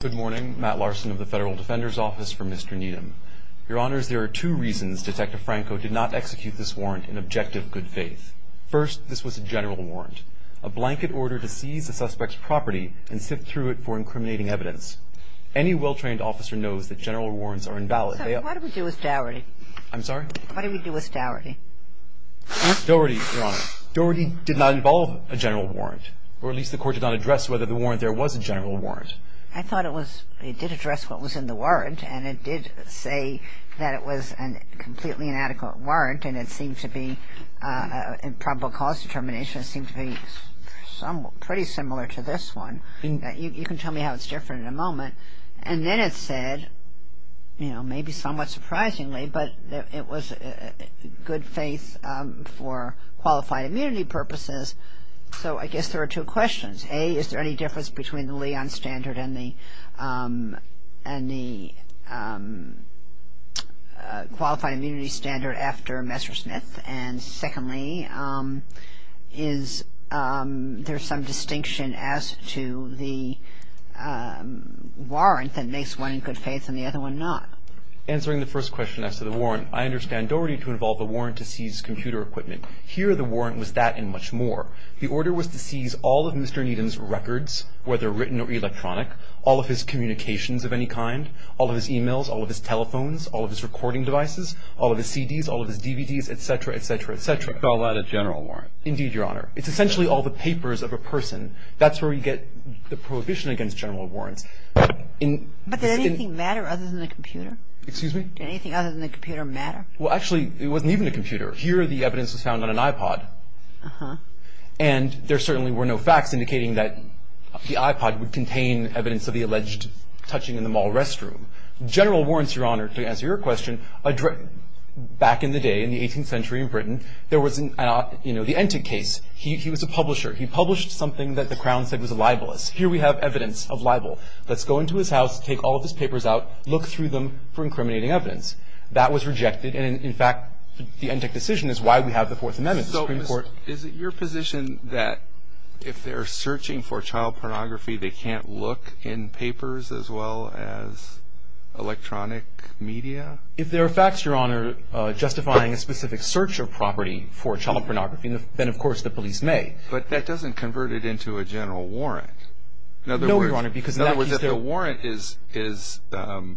Good morning, Matt Larson of the Federal Defender's Office for Mr. Needham. Your Honors, there are two reasons Detective Franco did not execute this warrant in objective good faith. First, this was a general warrant, a blanket order to seize a suspect's property and sift through it for incriminating evidence. Any well-trained officer knows that general warrants are invalid. So what do we do with Dougherty? I'm sorry? What do we do with Dougherty? Dougherty, Your Honor, Dougherty did not involve a general warrant, or at least the court did not address whether the warrant there was a general warrant. I thought it was, it did address what was in the warrant, and it did say that it was a completely inadequate warrant, and it seemed to be, in probable cause determination, it seemed to be pretty similar to this one. You can tell me how it's different in a moment. And then it said, you know, maybe somewhat surprisingly, but it was good faith for qualified immunity purposes. So I guess there are two questions. A, is there any difference between the Leon standard and the qualified immunity standard after Messersmith? And secondly, is there some distinction as to the warrant that makes one in good faith and the other one not? Answering the first question as to the warrant, I understand Dougherty to involve a warrant to seize computer equipment. Here, the warrant was that and much more. The order was to seize all of Mr. Needham's records, whether written or electronic, all of his communications of any kind, all of his emails, all of his telephones, all of his recording devices, all of his CDs, all of his DVDs, et cetera, et cetera, et cetera. You call that a general warrant? Indeed, Your Honor. It's essentially all the papers of a person. That's where we get the prohibition against general warrants. But did anything matter other than the computer? Excuse me? Did anything other than the computer matter? Well, actually, it wasn't even a computer. Here, the evidence was found on an iPod. And there certainly were no facts indicating that the iPod would contain evidence of the alleged touching in the mall restroom. General warrants, Your Honor, to answer your question, back in the day, in the 18th century in Britain, there was, you know, the Entik case. He was a publisher. He published something that the Crown said was libelous. Here we have evidence of libel. Let's go into his house, take all of his papers out, look through them for incriminating evidence. That was rejected. And in fact, the Entik decision is why we have the Fourth Amendment. Is it your position that if they're searching for child pornography, they can't look in papers as well as electronic media? If there are facts, Your Honor, justifying a specific search of property for child pornography, then, of course, the police may. But that doesn't convert it into a general warrant. No, Your Honor. In other words, if the warrant is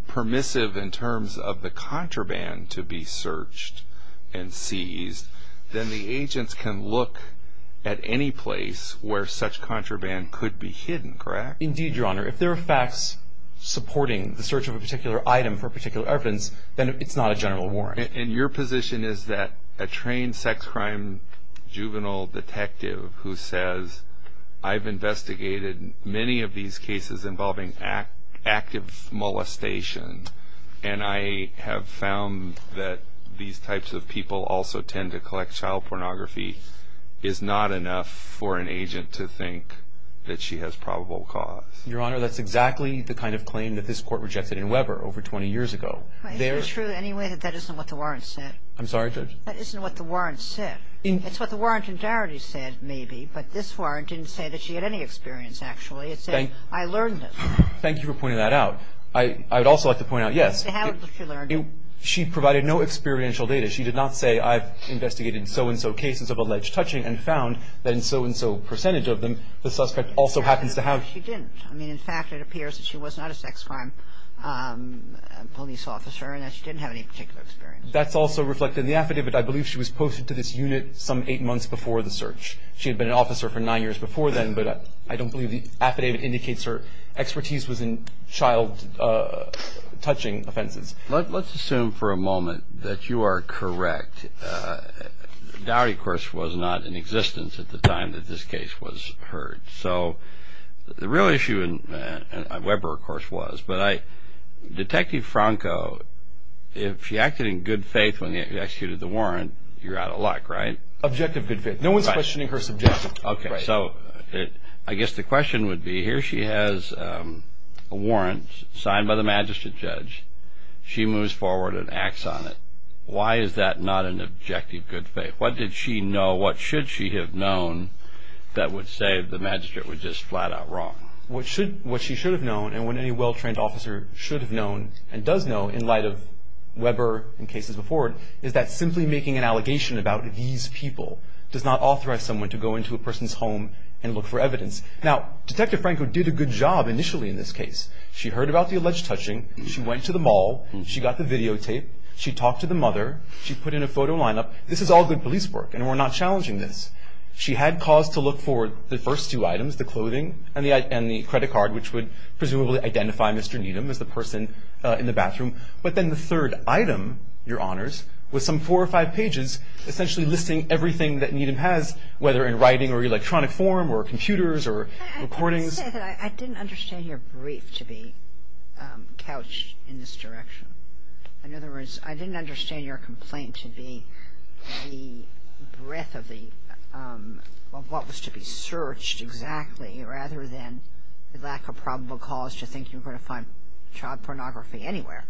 permissive in terms of the contraband to be searched and seized, then the agents can look at any place where such contraband could be hidden, correct? Indeed, Your Honor. If there are facts supporting the search of a particular item for particular evidence, then it's not a general warrant. And your position is that a trained sex crime juvenile detective who says, I've investigated many of these cases involving active molestation, and I have found that these types of people also tend to collect child pornography, is not enough for an agent to think that she has probable cause? Your Honor, that's exactly the kind of claim that this Court rejected in Weber over 20 years ago. Is it true anyway that that isn't what the warrant said? I'm sorry, Judge? That isn't what the warrant said. It's what the warrant entirely said, maybe. But this warrant didn't say that she had any experience, actually. It said, I learned it. Thank you for pointing that out. I would also like to point out, yes, she provided no experiential data. She did not say, I've investigated so-and-so cases of alleged touching and found that in so-and-so percentage of them, the suspect also happens to have. She didn't. I mean, in fact, it appears that she was not a sex crime police officer and that she didn't have any particular experience. That's also reflected in the affidavit. I believe she was posted to this unit some eight months before the search. She had been an officer for nine years before then, but I don't believe the affidavit indicates her expertise was in child touching offenses. Let's assume for a moment that you are correct. Dowry, of course, was not in existence at the time that this case was heard. So the real issue, and Weber, of course, was. But Detective Franco, if she acted in good faith when you executed the warrant, you're out of luck, right? Objective good faith. No one's questioning her subjective. Okay. So I guess the question would be, here she has a warrant signed by the magistrate judge. She moves forward and acts on it. Why is that not an objective good faith? What did she know? What should she have known that would say the magistrate was just flat out wrong? What she should have known, and what any well-trained officer should have known and does know in light of Weber and cases before it, is that simply making an allegation about these people does not authorize someone to go into a person's home and look for evidence. Now, Detective Franco did a good job initially in this case. She heard about the alleged touching. She went to the mall. She got the videotape. She talked to the mother. She put in a photo lineup. This is all good police work, and we're not challenging this. She had cause to look for the first two items, the clothing and the credit card, which would presumably identify Mr. Needham as the person in the bathroom. But then the third item, Your Honors, was some four or five pages essentially listing everything that Needham has, whether in writing or electronic form or computers or recordings. I didn't understand your brief to be couched in this direction. In other words, I didn't understand your complaint to be the breadth of what was to be searched exactly rather than the lack of probable cause to think you were going to find child pornography anywhere.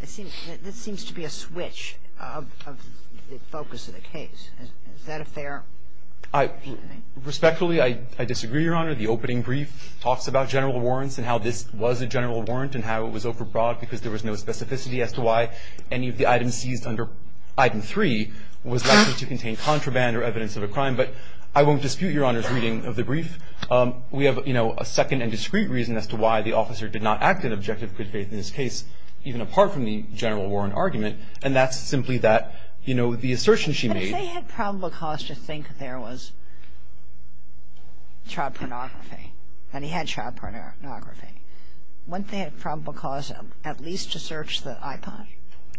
This seems to be a switch of the focus of the case. Is that a fair opinion? Respectfully, I disagree, Your Honor. The opening brief talks about general warrants and how this was a general warrant and how it was overbroad because there was no specificity as to why any of the items seized under item three was likely to contain contraband or evidence of a crime. But I won't dispute Your Honor's reading of the brief. We have, you know, a second and discrete reason as to why the officer did not act in objective good faith in this case, even apart from the general warrant argument. And that's simply that, you know, the assertion she made. But if they had probable cause to think there was child pornography, and he had child pornography, wouldn't they have probable cause at least to search the iPod?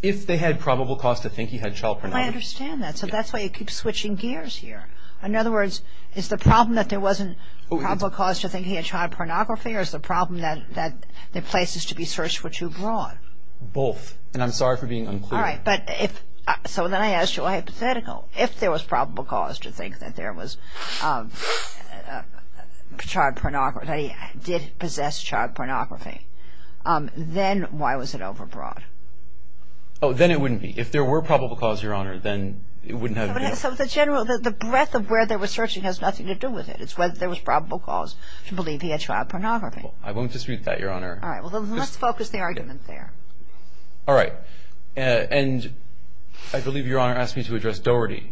If they had probable cause to think he had child pornography. I understand that. So that's why you keep switching gears here. In other words, is the problem that there wasn't probable cause to think he had child pornography or is the problem that the places to be searched were too broad? Both. And I'm sorry for being unclear. All right. But if so, then I asked you a hypothetical. If there was probable cause to think that there was child pornography, that he did possess child pornography, then why was it overbroad? Oh, then it wouldn't be. If there were probable cause, Your Honor, then it wouldn't have been. So the general, the breadth of where they were searching has nothing to do with it. It's whether there was probable cause to believe he had child pornography. I won't dispute that, Your Honor. All right. Well, let's focus the argument there. All right. And I believe Your Honor asked me to address Doherty,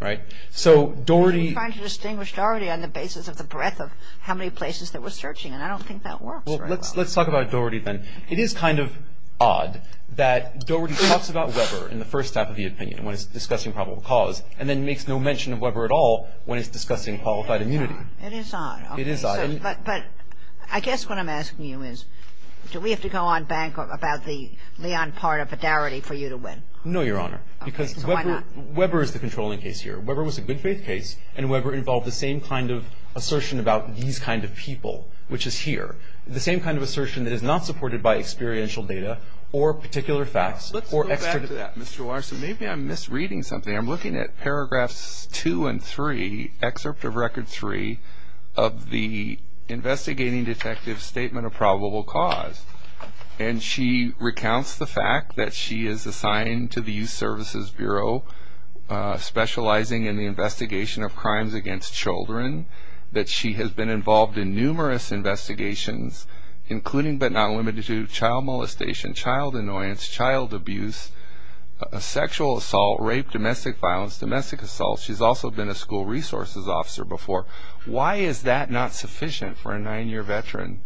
right? So Doherty I'm trying to distinguish Doherty on the basis of the breadth of how many places that we're searching. And I don't think that works very well. Let's talk about Doherty then. It is kind of odd that Doherty talks about Weber in the first half of the opinion when it's discussing probable cause and then makes no mention of Weber at all when it's discussing qualified immunity. It is odd. It is odd. But I guess what I'm asking you is, do we have to go on bank about the part of Doherty for you to win? No, Your Honor. Because Weber is the controlling case here. Weber was a good faith case. And Weber involved the same kind of assertion about these kind of people, which is here. The same kind of assertion that is not supported by experiential data or particular facts. Let's go back to that, Mr. Larson. Maybe I'm misreading something. I'm looking at paragraphs 2 and 3, excerpt of record 3 of the investigating detective statement of probable cause. And she recounts the fact that she is assigned to the Youth Services Bureau specializing in the investigation of crimes against children, that she has been involved in numerous investigations, including but not limited to child molestation, child annoyance, child abuse, sexual assault, rape, domestic violence, domestic assault. She's also been a school resources officer before. Why is that not sufficient for a nine-year veteran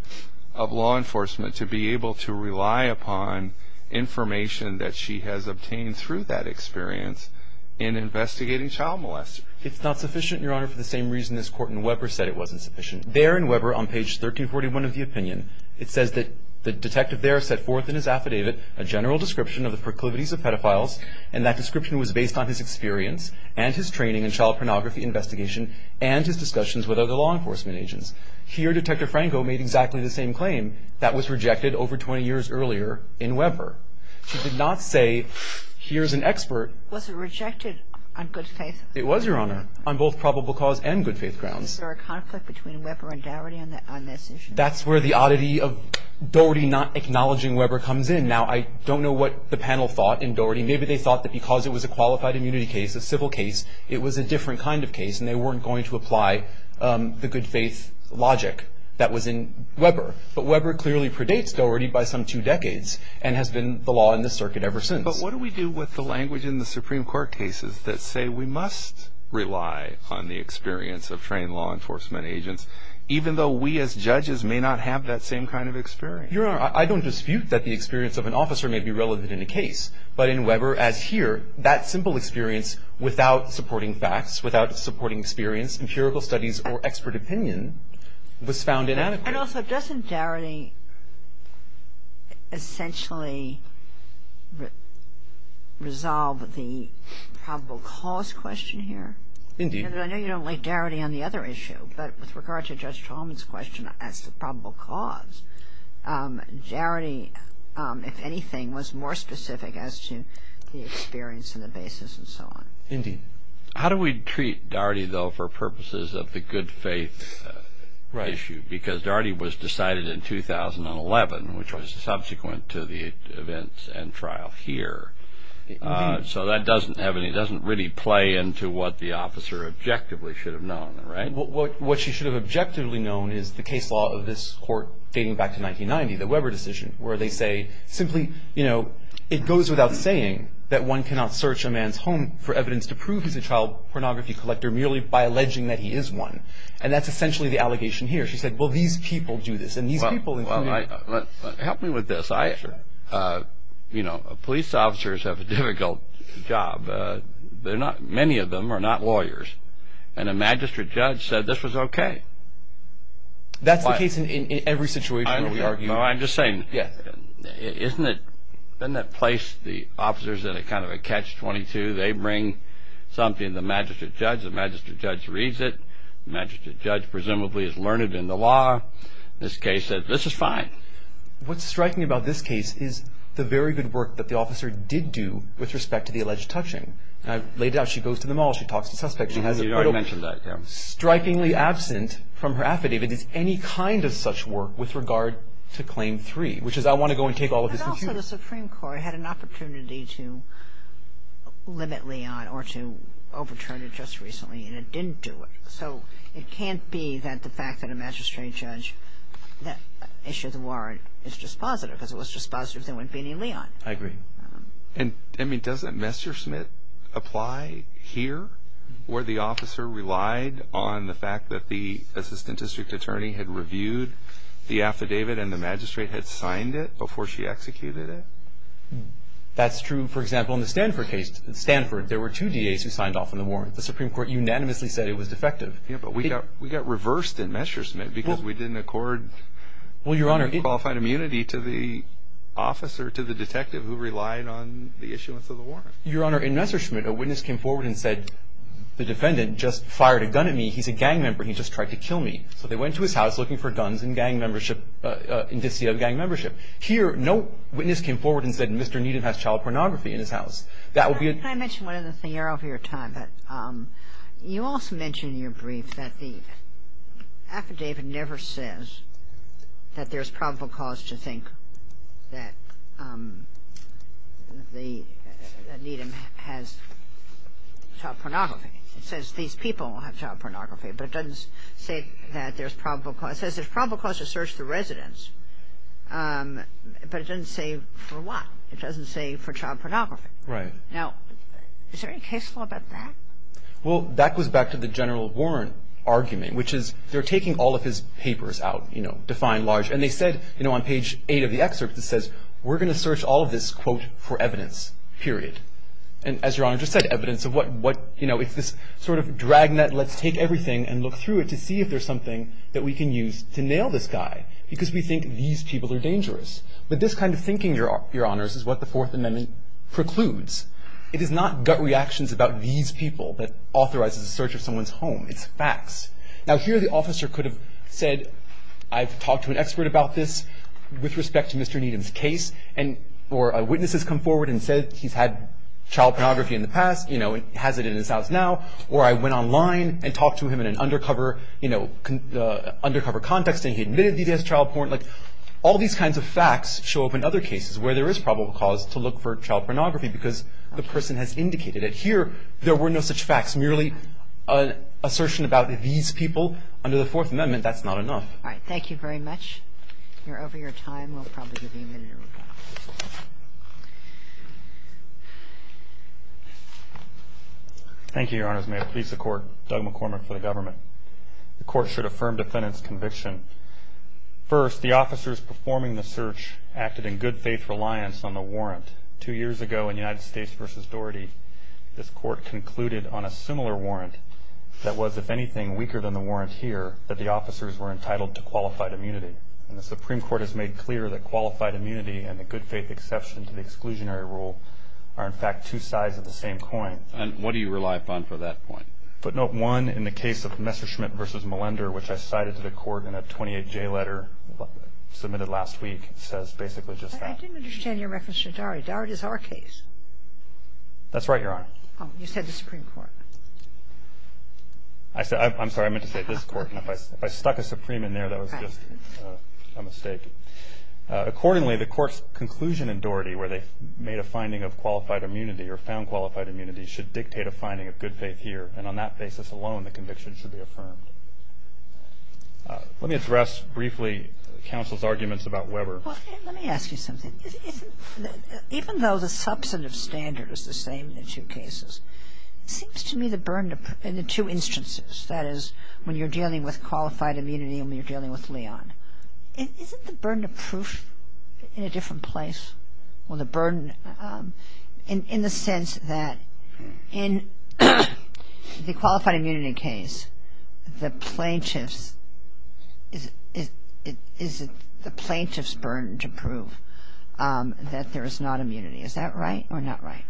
of law enforcement to be able to rely upon information that she has obtained through that experience in investigating child molest? It's not sufficient, Your Honor, for the same reason this court in Weber said it wasn't sufficient. There in Weber on page 1341 of the opinion, it says that the detective there set forth in his affidavit a general description of the proclivities of pedophiles. And that description was based on his experience and his training in child pornography investigation and his discussions with other law enforcement agents. Here, Detective Franco made exactly the same claim that was rejected over 20 years earlier in Weber. She did not say, here's an expert. Was it rejected on good faith? It was, Your Honor, on both probable cause and good faith grounds. Is there a conflict between Weber and Dougherty on this issue? That's where the oddity of Dougherty not acknowledging Weber comes in. Now, I don't know what the panel thought in Dougherty. Maybe they thought that because it was a qualified immunity case, a civil case, it was a different kind of case and they weren't going to apply the good faith logic that was in Weber. But Weber clearly predates Dougherty by some two decades and has been the law in this circuit ever since. But what do we do with the language in the Supreme Court cases that say we must rely on the experience of trained law enforcement agents even though we as judges may not have that same kind of experience? Your Honor, I don't dispute that the experience of an officer may be relevant in a case. But in Weber, as here, that simple experience without supporting facts, without supporting experience, empirical studies, or expert opinion was found inadequate. And also, doesn't Dougherty essentially resolve the probable cause question here? Indeed. I know you don't like Dougherty on the other issue. But with regard to Judge Chalmers' question as to probable cause, Dougherty, if anything, was more specific as to the experience and the basis and so on. Indeed. How do we treat Dougherty, though, for purposes of the good faith issue? Because Dougherty was decided in 2011, which was subsequent to the events and trial here. So that doesn't really play into what the officer objectively should have known, right? What she should have objectively known is the case law of this court dating back to it goes without saying that one cannot search a man's home for evidence to prove he's a child pornography collector merely by alleging that he is one. And that's essentially the allegation here. She said, well, these people do this. And these people include me. Help me with this. Police officers have a difficult job. Many of them are not lawyers. And a magistrate judge said this was OK. That's the case in every situation where we argue. I'm just saying, yes, isn't it in that place? The officers that are kind of a catch 22, they bring something. The magistrate judge, the magistrate judge reads it. The magistrate judge presumably has learned it in the law. This case said this is fine. What's striking about this case is the very good work that the officer did do with respect to the alleged touching laid out. She goes to the mall. She talks to suspects. She has already mentioned that strikingly absent from her affidavit is any kind of such work with regard to claim three, which is I want to go and take all of this. And also the Supreme Court had an opportunity to limit Leon or to overturn it just recently. And it didn't do it. So it can't be that the fact that a magistrate judge that issued the warrant is dispositive because it was dispositive there wouldn't be any Leon. I agree. And I mean, doesn't Messerschmidt apply here where the officer relied on the fact that the assistant district attorney had reviewed the affidavit and the magistrate had signed it before she executed it? That's true. For example, in the Stanford case, Stanford, there were two DAs who signed off on the warrant. The Supreme Court unanimously said it was defective. Yeah, but we got reversed in Messerschmidt because we didn't accord qualified immunity to the officer, to the detective who relied on the issuance of the warrant. Your Honor, in Messerschmidt, a witness came forward and said, the defendant just fired a gun at me. He's a gang member. He just tried to kill me. So they went to his house looking for guns and gang membership, indicia of gang membership. Here, no witness came forward and said, Mr. Needham has child pornography in his house. That would be a Can I mention one other thing? You're over your time. You also mentioned in your brief that the affidavit never says that there's probable cause to think that Needham has child pornography. It says these people have child pornography. But it doesn't say that there's probable cause. It says there's probable cause to search the residence. But it doesn't say for what. It doesn't say for child pornography. Right. Now, is there any case law about that? Well, that goes back to the general warrant argument, which is they're taking all of his papers out, you know, defined large. And they said, you know, on page eight of the excerpt, it says, we're going to search all of this, quote, for evidence, period. And as Your Honor just said, evidence of what, you know, it's this sort of dragnet, let's take everything and look through it to see if there's something that we can use to nail this guy. Because we think these people are dangerous. But this kind of thinking, Your Honors, is what the Fourth Amendment precludes. It is not gut reactions about these people that authorizes the search of someone's home. It's facts. Now, here the officer could have said, I've talked to an expert about this with respect to Mr. Needham's case, or a witness has come forward and said he's had child pornography in the past, you know, and has it in his house now. Or I went online and talked to him in an undercover, you know, undercover context, and he admitted that he has child porn. Like, all these kinds of facts show up in other cases where there is probable cause to look for child pornography because the person has indicated it. Here, there were no such facts. Merely an assertion about these people under the Fourth Amendment, that's not enough. All right. Thank you very much. We're over your time. We'll probably give you a minute or so. Thank you, Your Honors. May it please the Court, Doug McCormick for the government. The Court should affirm defendant's conviction. First, the officers performing the search acted in good faith reliance on the warrant. Two years ago in United States v. Doherty, this Court concluded on a similar warrant that was, if anything, weaker than the warrant here, that the officers were entitled to qualified immunity. And the Supreme Court has made clear that qualified immunity and the good faith exception to the exclusionary rule are, in fact, two sides of the same coin. And what do you rely upon for that point? Footnote one in the case of Messerschmitt v. Melender, which I cited to the Court in a 28-J letter submitted last week, says basically just that. I didn't understand your reference to Doherty. Doherty is our case. That's right, Your Honor. Oh, you said the Supreme Court. I said, I'm sorry, I meant to say this Court. If I stuck a Supreme in there, that was just a mistake. Accordingly, the Court's conclusion in Doherty where they made a finding of qualified immunity or found qualified immunity should dictate a finding of good faith here. And on that basis alone, the conviction should be affirmed. Let me address briefly counsel's arguments about Weber. Well, let me ask you something. Even though the substantive standard is the same in the two cases, it seems to me the immunity when you're dealing with Leon. Isn't the burden of proof in a different place? Well, the burden in the sense that in the qualified immunity case, the plaintiff's burden to prove that there is not immunity. Is that right or not right?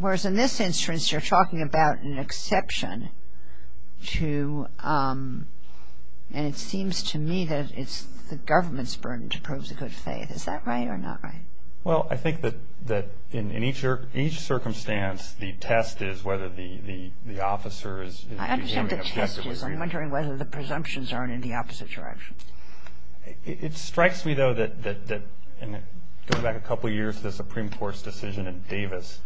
Whereas in this instance, you're talking about an exception to, and it seems to me that it's the government's burden to prove the good faith. Is that right or not right? Well, I think that in each circumstance, the test is whether the officer is. I understand the test is. I'm wondering whether the presumptions are in the opposite direction. It strikes me, though, that going back a couple of years to the Supreme Court's decision in Davis,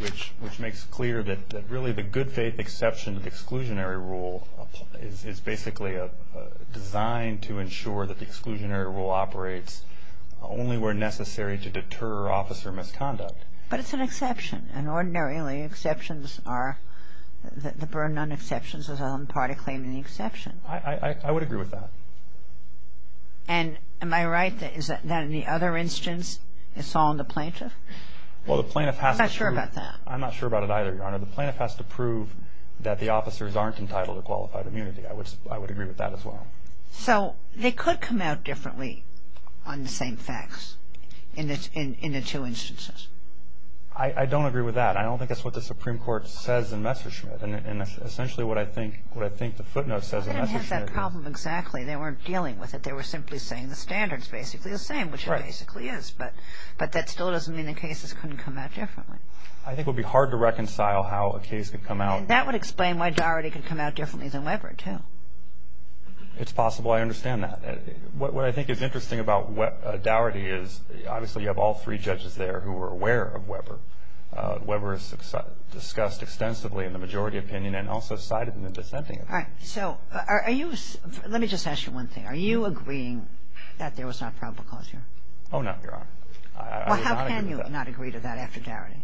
which makes clear that really the good faith exception to the exclusionary rule is basically designed to ensure that the exclusionary rule operates only where necessary to deter officer misconduct. But it's an exception. And ordinarily, the burden on exceptions is on the part of claiming the exception. I would agree with that. And am I right that in the other instance, it's all on the plaintiff? Well, the plaintiff has to prove. I'm not sure about that. I'm not sure about it either, Your Honor. The plaintiff has to prove that the officers aren't entitled to qualified immunity. I would agree with that as well. So they could come out differently on the same facts in the two instances? I don't agree with that. I don't think that's what the Supreme Court says in Messerschmidt. And essentially, what I think the footnote says in Messerschmidt is. I didn't have that problem exactly. They weren't dealing with it. They were simply saying the standard is basically the same, which it basically is. But that still doesn't mean the cases couldn't come out differently. I think it would be hard to reconcile how a case could come out. And that would explain why Dougherty could come out differently than Weber, too. It's possible. I understand that. What I think is interesting about Dougherty is, obviously, you have all three judges there who are aware of Weber. All right. So let me just ask you one thing. Are you agreeing that there was not probable cause here? Oh, no, Your Honor. Well, how can you not agree to that after Dougherty?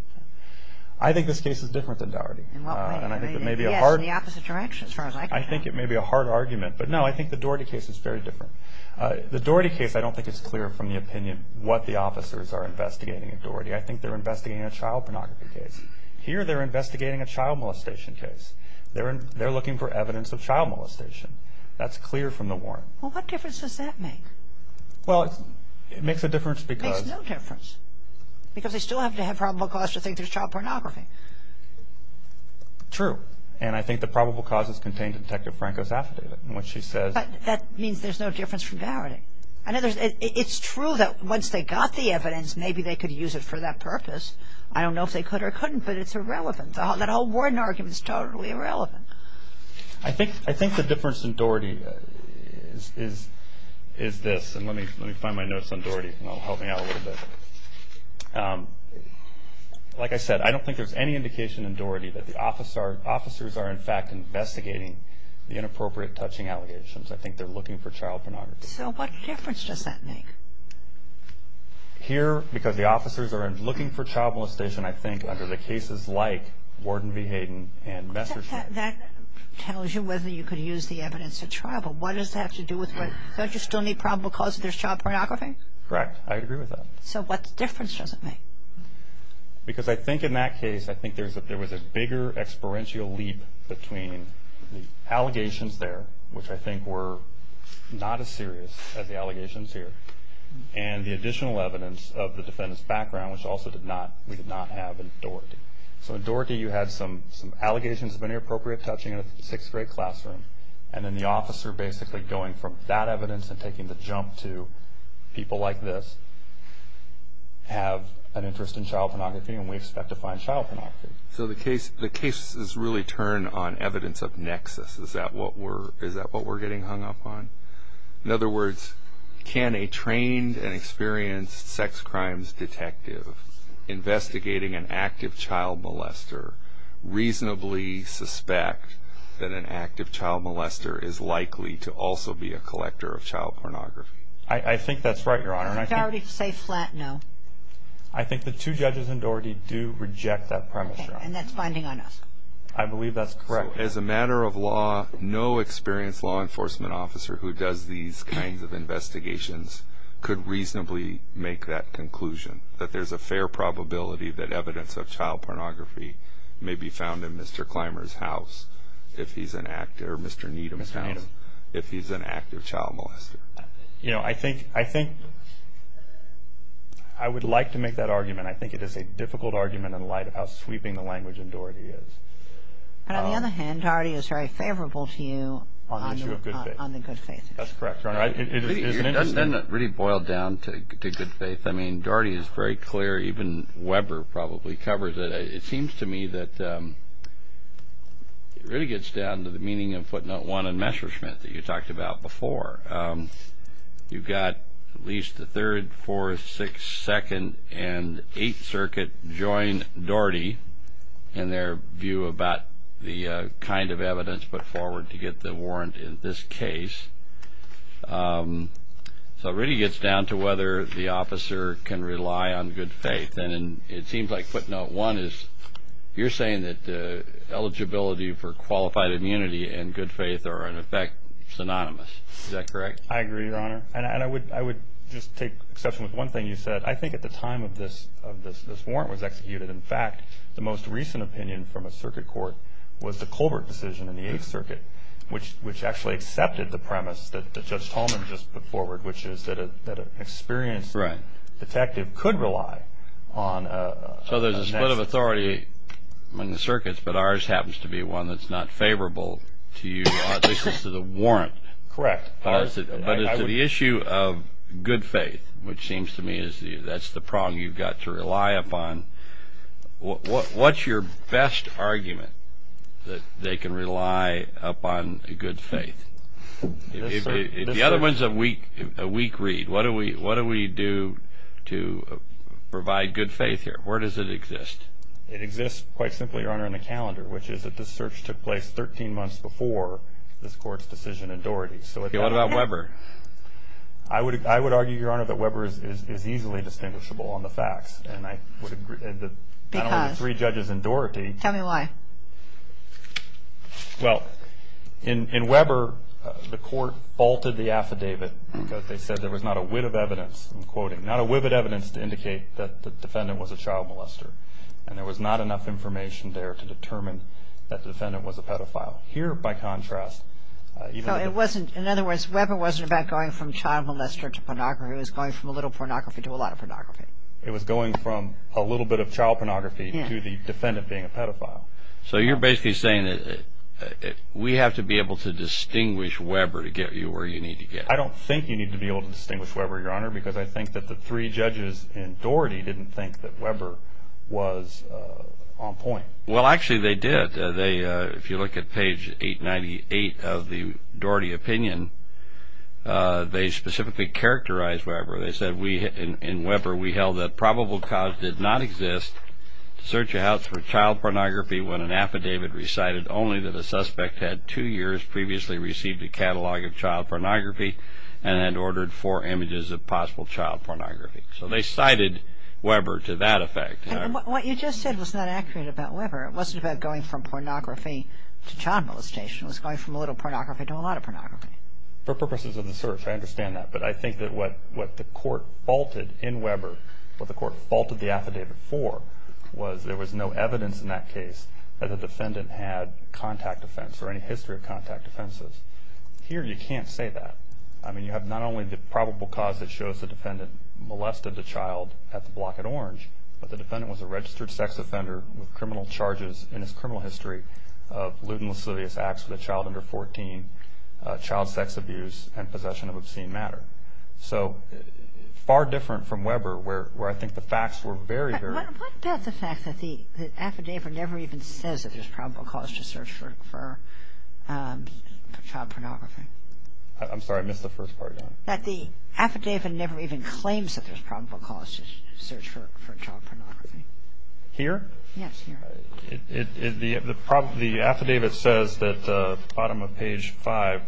I think this case is different than Dougherty. In what way? Yes, in the opposite direction, as far as I can tell. I think it may be a hard argument. But no, I think the Dougherty case is very different. The Dougherty case, I don't think it's clear from the opinion what the officers are investigating at Dougherty. I think they're investigating a child pornography case. Here, they're investigating a child molestation case. They're looking for evidence of child molestation. That's clear from the warrant. Well, what difference does that make? Well, it makes a difference because... It makes no difference. Because they still have to have probable cause to think there's child pornography. True. And I think the probable cause is contained in Detective Franco's affidavit, in which she says... That means there's no difference from Dougherty. It's true that once they got the evidence, maybe they could use it for that purpose. I don't know if they could or couldn't, but it's irrelevant. That whole warrant argument is totally irrelevant. I think the difference in Dougherty is this. And let me find my notes on Dougherty, and it'll help me out a little bit. Like I said, I don't think there's any indication in Dougherty that the officers are, in fact, investigating the inappropriate touching allegations. I think they're looking for child pornography. So what difference does that make? Here, because the officers are looking for child molestation, I think, under the cases like Warden v. Hayden and Messerschmitt. That tells you whether you could use the evidence to trial, but what does that have to do with... Don't you still need probable cause if there's child pornography? Correct. I agree with that. So what difference does it make? Because I think in that case, I think there was a bigger, experiential leap between the allegations there, which I think were not as serious as the allegations here, and the additional evidence of the defendant's background, which also we did not have in Dougherty. So in Dougherty, you had some allegations of inappropriate touching in a sixth grade classroom, and then the officer basically going from that evidence and taking the jump to people like this have an interest in child pornography, and we expect to find child pornography. So the cases really turn on evidence of nexus. Is that what we're getting hung up on? In other words, can a trained and experienced sex crimes detective investigating an active child molester reasonably suspect that an active child molester is likely to also be a collector of child pornography? I think that's right, Your Honor. Did Dougherty say flat no? I think the two judges in Dougherty do reject that premise. And that's binding on us. I believe that's correct. As a matter of law, no experienced law enforcement officer who does these kinds of investigations could reasonably make that conclusion, that there's a fair probability that evidence of child pornography may be found in Mr. Clymer's house if he's an active, or Mr. Needham's house, if he's an active child molester. You know, I think I would like to make that argument. I think it is a difficult argument in light of how sweeping the language in Dougherty is. But on the other hand, Dougherty is very favorable to you on the issue of good faith. That's correct, Your Honor. It is an interesting argument. It doesn't really boil down to good faith. I mean, Dougherty is very clear. Even Weber probably covers it. It seems to me that it really gets down to the meaning of footnote one and Messerschmitt that you talked about before. You've got at least the Third, Fourth, Sixth, Second, and Eighth Circuit join Dougherty in their view about the kind of evidence put forward to get the warrant in this case. So it really gets down to whether the officer can rely on good faith. And it seems like footnote one is you're saying that eligibility for qualified immunity and good faith are, in effect, synonymous. Is that correct? I agree, Your Honor. And I would just take exception with one thing you said. I think at the time of this warrant was executed, in fact, the most recent opinion from a circuit court was the Colbert decision in the Eighth Circuit, which actually accepted the premise that Judge Tolman just put forward, which is that an experienced detective could rely on a... So there's a split of authority in the circuits, but ours happens to be one that's not favorable to you, at least to the warrant. Correct. But as to the issue of good faith, which seems to me that's the prong you've got to rely upon, what's your best argument that they can rely upon good faith? The other one's a weak read. What do we do to provide good faith here? Where does it exist? It exists, quite simply, Your Honor, in the calendar, which is that this search took place 13 months before this court's decision in Dougherty. What about Weber? I would argue, Your Honor, that Weber is easily distinguishable on the facts, and I agree with the three judges in Dougherty. Tell me why. Well, in Weber, the court faulted the affidavit because they said there was not a wit of evidence, I'm quoting, not a witted evidence to indicate that the defendant was a child molester, and there was not enough information there to determine that the defendant was a pedophile. Here, by contrast... In other words, Weber wasn't about going from child molester to pornography. It was going from a little pornography to a lot of pornography. It was going from a little bit of child pornography to the defendant being a pedophile. So you're basically saying that we have to be able to distinguish Weber to get you where you need to get? I don't think you need to be able to distinguish Weber, Your Honor, because I think that the three judges in Dougherty didn't think that Weber was on point. Well, actually, they did. If you look at page 898 of the Dougherty opinion, they specifically characterized Weber. They said, in Weber, we held that probable cause did not exist to search a house for child pornography when an affidavit recited only that a suspect had two years previously received a catalog of child pornography and had ordered four images of possible child pornography. So they cited Weber to that effect. What you just said was not accurate about Weber. It wasn't about going from pornography to child molestation. It was going from a little pornography to a lot of pornography. For purposes of the search, I understand that. But I think that what the court faulted in Weber, what the court faulted the affidavit for, was there was no evidence in that case that the defendant had contact offense or any history of contact offenses. Here, you can't say that. I mean, you have not only the probable cause that shows the defendant molested the child at the block at Orange, but the defendant was a registered sex offender with criminal charges in his criminal history of lewd and lascivious acts with a child under 14, child sex abuse, and possession of obscene matter. So far different from Weber, where I think the facts were very, very... But what about the fact that the affidavit never even says that there's probable cause to search for child pornography? I'm sorry, I missed the first part, Your Honor. That the affidavit never even claims that there's probable cause to search for child pornography. Here? Yes, here. The affidavit says at the bottom of page 5,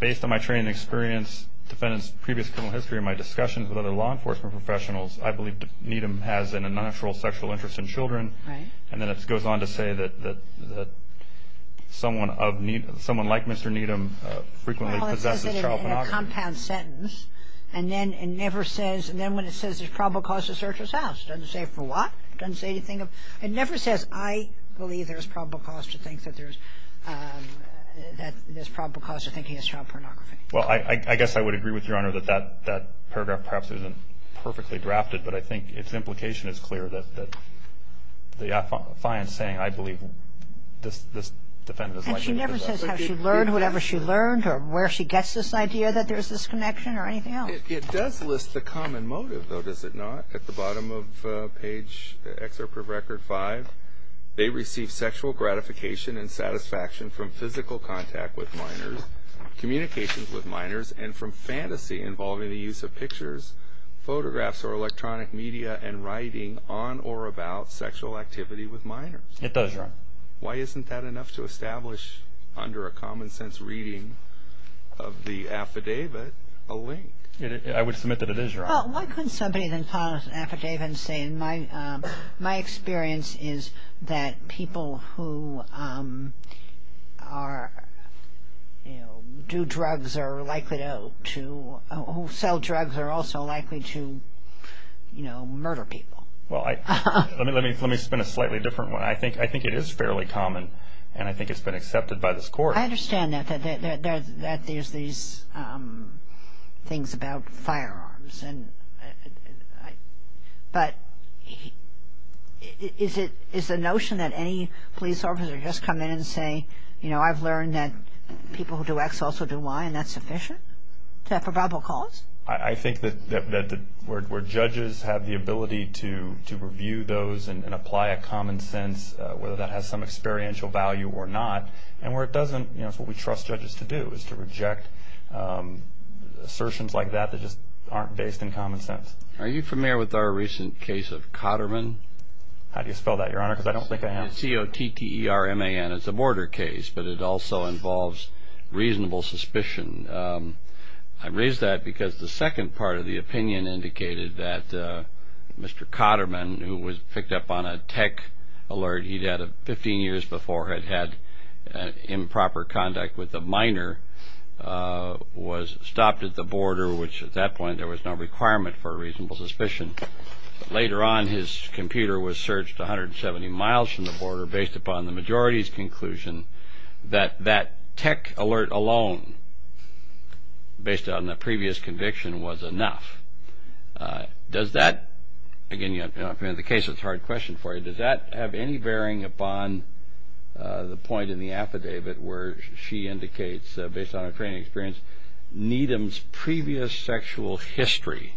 based on my training experience, defendant's previous criminal history, my discussions with other law enforcement professionals, I believe Needham has an unnatural sexual interest in children. Right. frequently possesses child pornography. In a compound sentence, and then it never says, and then when it says there's probable cause to search his house, it doesn't say for what, it doesn't say anything. It never says, I believe there's probable cause to think that there's, that there's probable cause to think he has child pornography. Well, I guess I would agree with Your Honor that that paragraph perhaps isn't perfectly drafted, but I think its implication is clear, that the defiant saying, I believe this defendant is likely to possess child pornography. And she never says how she learned, whatever she learned, where she gets this idea that there's this connection or anything else. It does list the common motive though, does it not? At the bottom of page, excerpt of record 5, they receive sexual gratification and satisfaction from physical contact with minors, communications with minors, and from fantasy involving the use of pictures, photographs, or electronic media, and writing on or about sexual activity with minors. It does, Your Honor. Why isn't that enough to establish under a common sense reading of the affidavit a link? I would submit that it is, Your Honor. Well, why couldn't somebody then file an affidavit and say, my experience is that people who are, you know, do drugs are likely to, to, who sell drugs are also likely to, you know, murder people. Well, I, let me, let me, let me spin a slightly different one. I think it is fairly common, and I think it's been accepted by this Court. I understand that, that there's these things about firearms and, but is it, is the notion that any police officer just come in and say, you know, I've learned that people who do X also do Y, and that's sufficient? To have probable cause? I think that, that the, where, where judges have the ability to, to review those and apply a common sense, whether that has some experiential value or not, and where it doesn't, you know, it's what we trust judges to do, is to reject assertions like that that just aren't based in common sense. Are you familiar with our recent case of Cotterman? How do you spell that, Your Honor? Because I don't think I have. C-O-T-T-E-R-M-A-N. It's a border case, but it also involves reasonable suspicion. And I raise that because the second part of the opinion indicated that Mr. Cotterman, who was picked up on a tech alert he'd had 15 years before, had had improper contact with a miner, was stopped at the border, which at that point there was no requirement for a reasonable suspicion. Later on, his computer was searched 170 miles from the border based upon the majority's conclusion that that tech alert alone, based on the previous conviction, was enough. Does that, again, you know, if you're in the case, it's a hard question for you. Does that have any bearing upon the point in the affidavit where she indicates, based on her training experience, Needham's previous sexual history,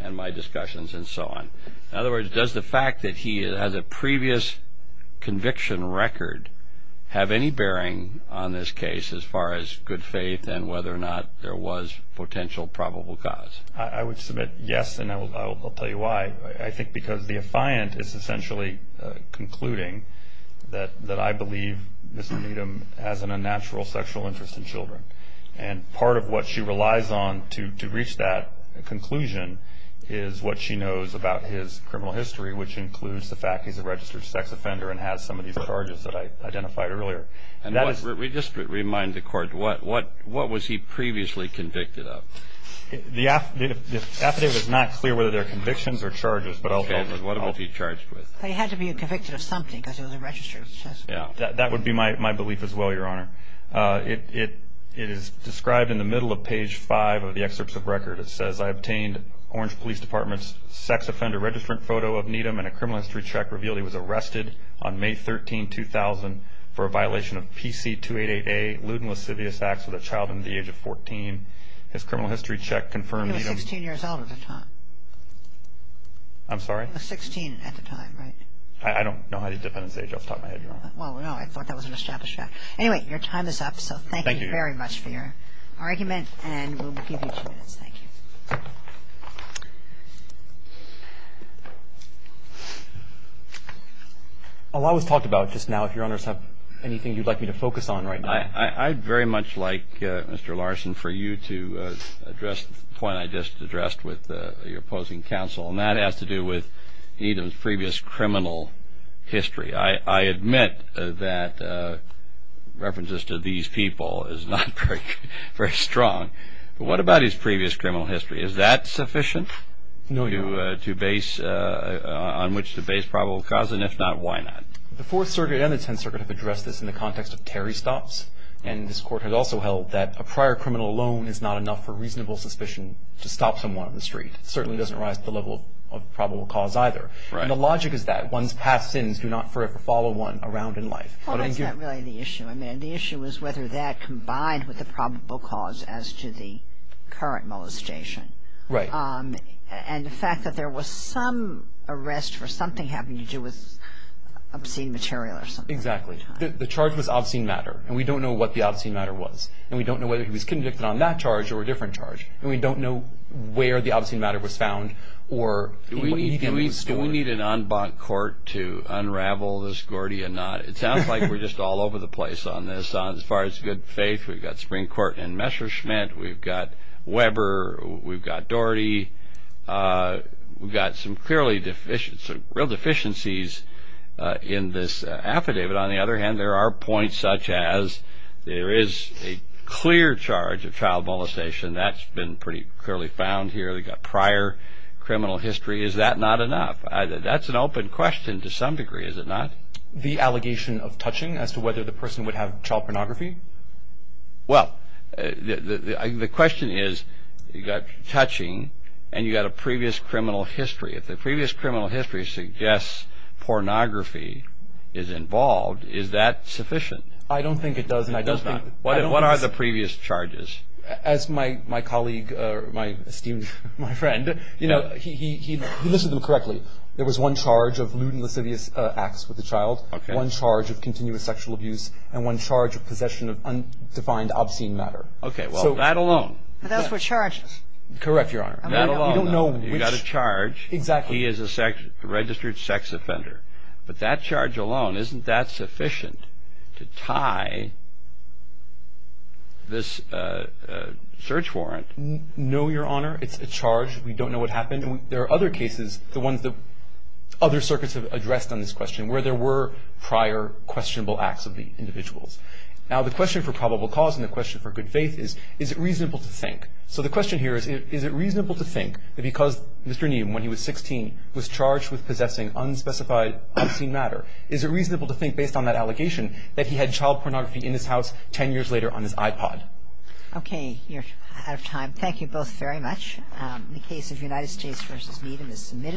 and my discussions, and so on? In other words, does the fact that he has a previous conviction record have any bearing on this case as far as good faith and whether or not there was potential probable cause? I would submit yes, and I'll tell you why. I think because the affiant is essentially concluding that I believe Mr. Needham has an unnatural sexual interest in children. And part of what she relies on to reach that conclusion is what she knows about his criminal history, which includes the fact he's a registered sex offender and has some of these charges that I identified earlier. And let me just remind the court, what was he previously convicted of? The affidavit is not clear whether they're convictions or charges, but I'll tell you. What was he charged with? They had to be convicted of something because he was a registered sex offender. That would be my belief as well, Your Honor. It is described in the middle of page 5 of the excerpts of record. It says, I obtained Orange Police Department's sex offender registrant photo of Needham and a criminal history check revealed he was arrested on May 13, 2000, for a violation of PC-288A lewd and lascivious acts with a child under the age of 14. His criminal history check confirmed Needham- He was 16 years old at the time. I'm sorry? He was 16 at the time, right? I don't know how the defendant's age is off the top of my head, Your Honor. Well, no, I thought that was an established fact. Anyway, your time is up, so thank you very much for your argument, and we'll give you two minutes. Thank you. A lot was talked about just now. If Your Honors have anything you'd like me to focus on right now. I'd very much like, Mr. Larson, for you to address the point I just addressed with your opposing counsel, and that has to do with Needham's previous criminal history. I admit that references to these people is not very strong, but what about his previous criminal history? Is that sufficient on which to base probable cause, and if not, why not? The Fourth Circuit and the Tenth Circuit have addressed this in the context of Terry Stops, and this Court has also held that a prior criminal alone is not enough for reasonable suspicion to stop someone on the street. It certainly doesn't rise to the level of probable cause either, and the logic is that one's past sins do not forever follow one around in life. Well, that's not really the issue. I mean, the issue is whether that combined with the probable cause as to the current molestation. Right. And the fact that there was some arrest for something having to do with obscene material or something. Exactly. The charge was obscene matter, and we don't know what the obscene matter was, and we don't know whether he was convicted on that charge or a different charge, and we don't know where the obscene matter was found or what Needham was doing. We need an en banc court to unravel this Gordian knot. It sounds like we're just all over the place on this. As far as good faith, we've got Springcourt and Messerschmitt, we've got Weber, we've got Doherty. We've got some real deficiencies in this affidavit. On the other hand, there are points such as there is a clear charge of child molestation. That's been pretty clearly found here. We've got prior criminal history. Is that not enough? That's an open question to some degree, is it not? The allegation of touching as to whether the person would have child pornography? Well, the question is you've got touching and you've got a previous criminal history. If the previous criminal history suggests pornography is involved, is that sufficient? I don't think it does. It does not. What are the previous charges? As my colleague, my esteemed friend, he listed them correctly. There was one charge of lewd and lascivious acts with a child, one charge of continuous sexual abuse, and one charge of possession of undefined obscene matter. That alone? That's what charges? Correct, Your Honor. That alone. We don't know which- You've got a charge. Exactly. He is a registered sex offender. But that charge alone, isn't that sufficient to tie this search warrant? No, Your Honor. It's a charge. We don't know what happened. There are other cases, the ones that other circuits have addressed on this question, where there were prior questionable acts of the individuals. Now, the question for probable cause and the question for good faith is, is it reasonable to think? So the question here is, is it reasonable to think that because Mr. Neal, when he was charged with possessing unspecified obscene matter, is it reasonable to think, based on that allegation, that he had child pornography in his house 10 years later on his iPod? Okay. You're out of time. Thank you both very much. The case of United States v. Needham is submitted.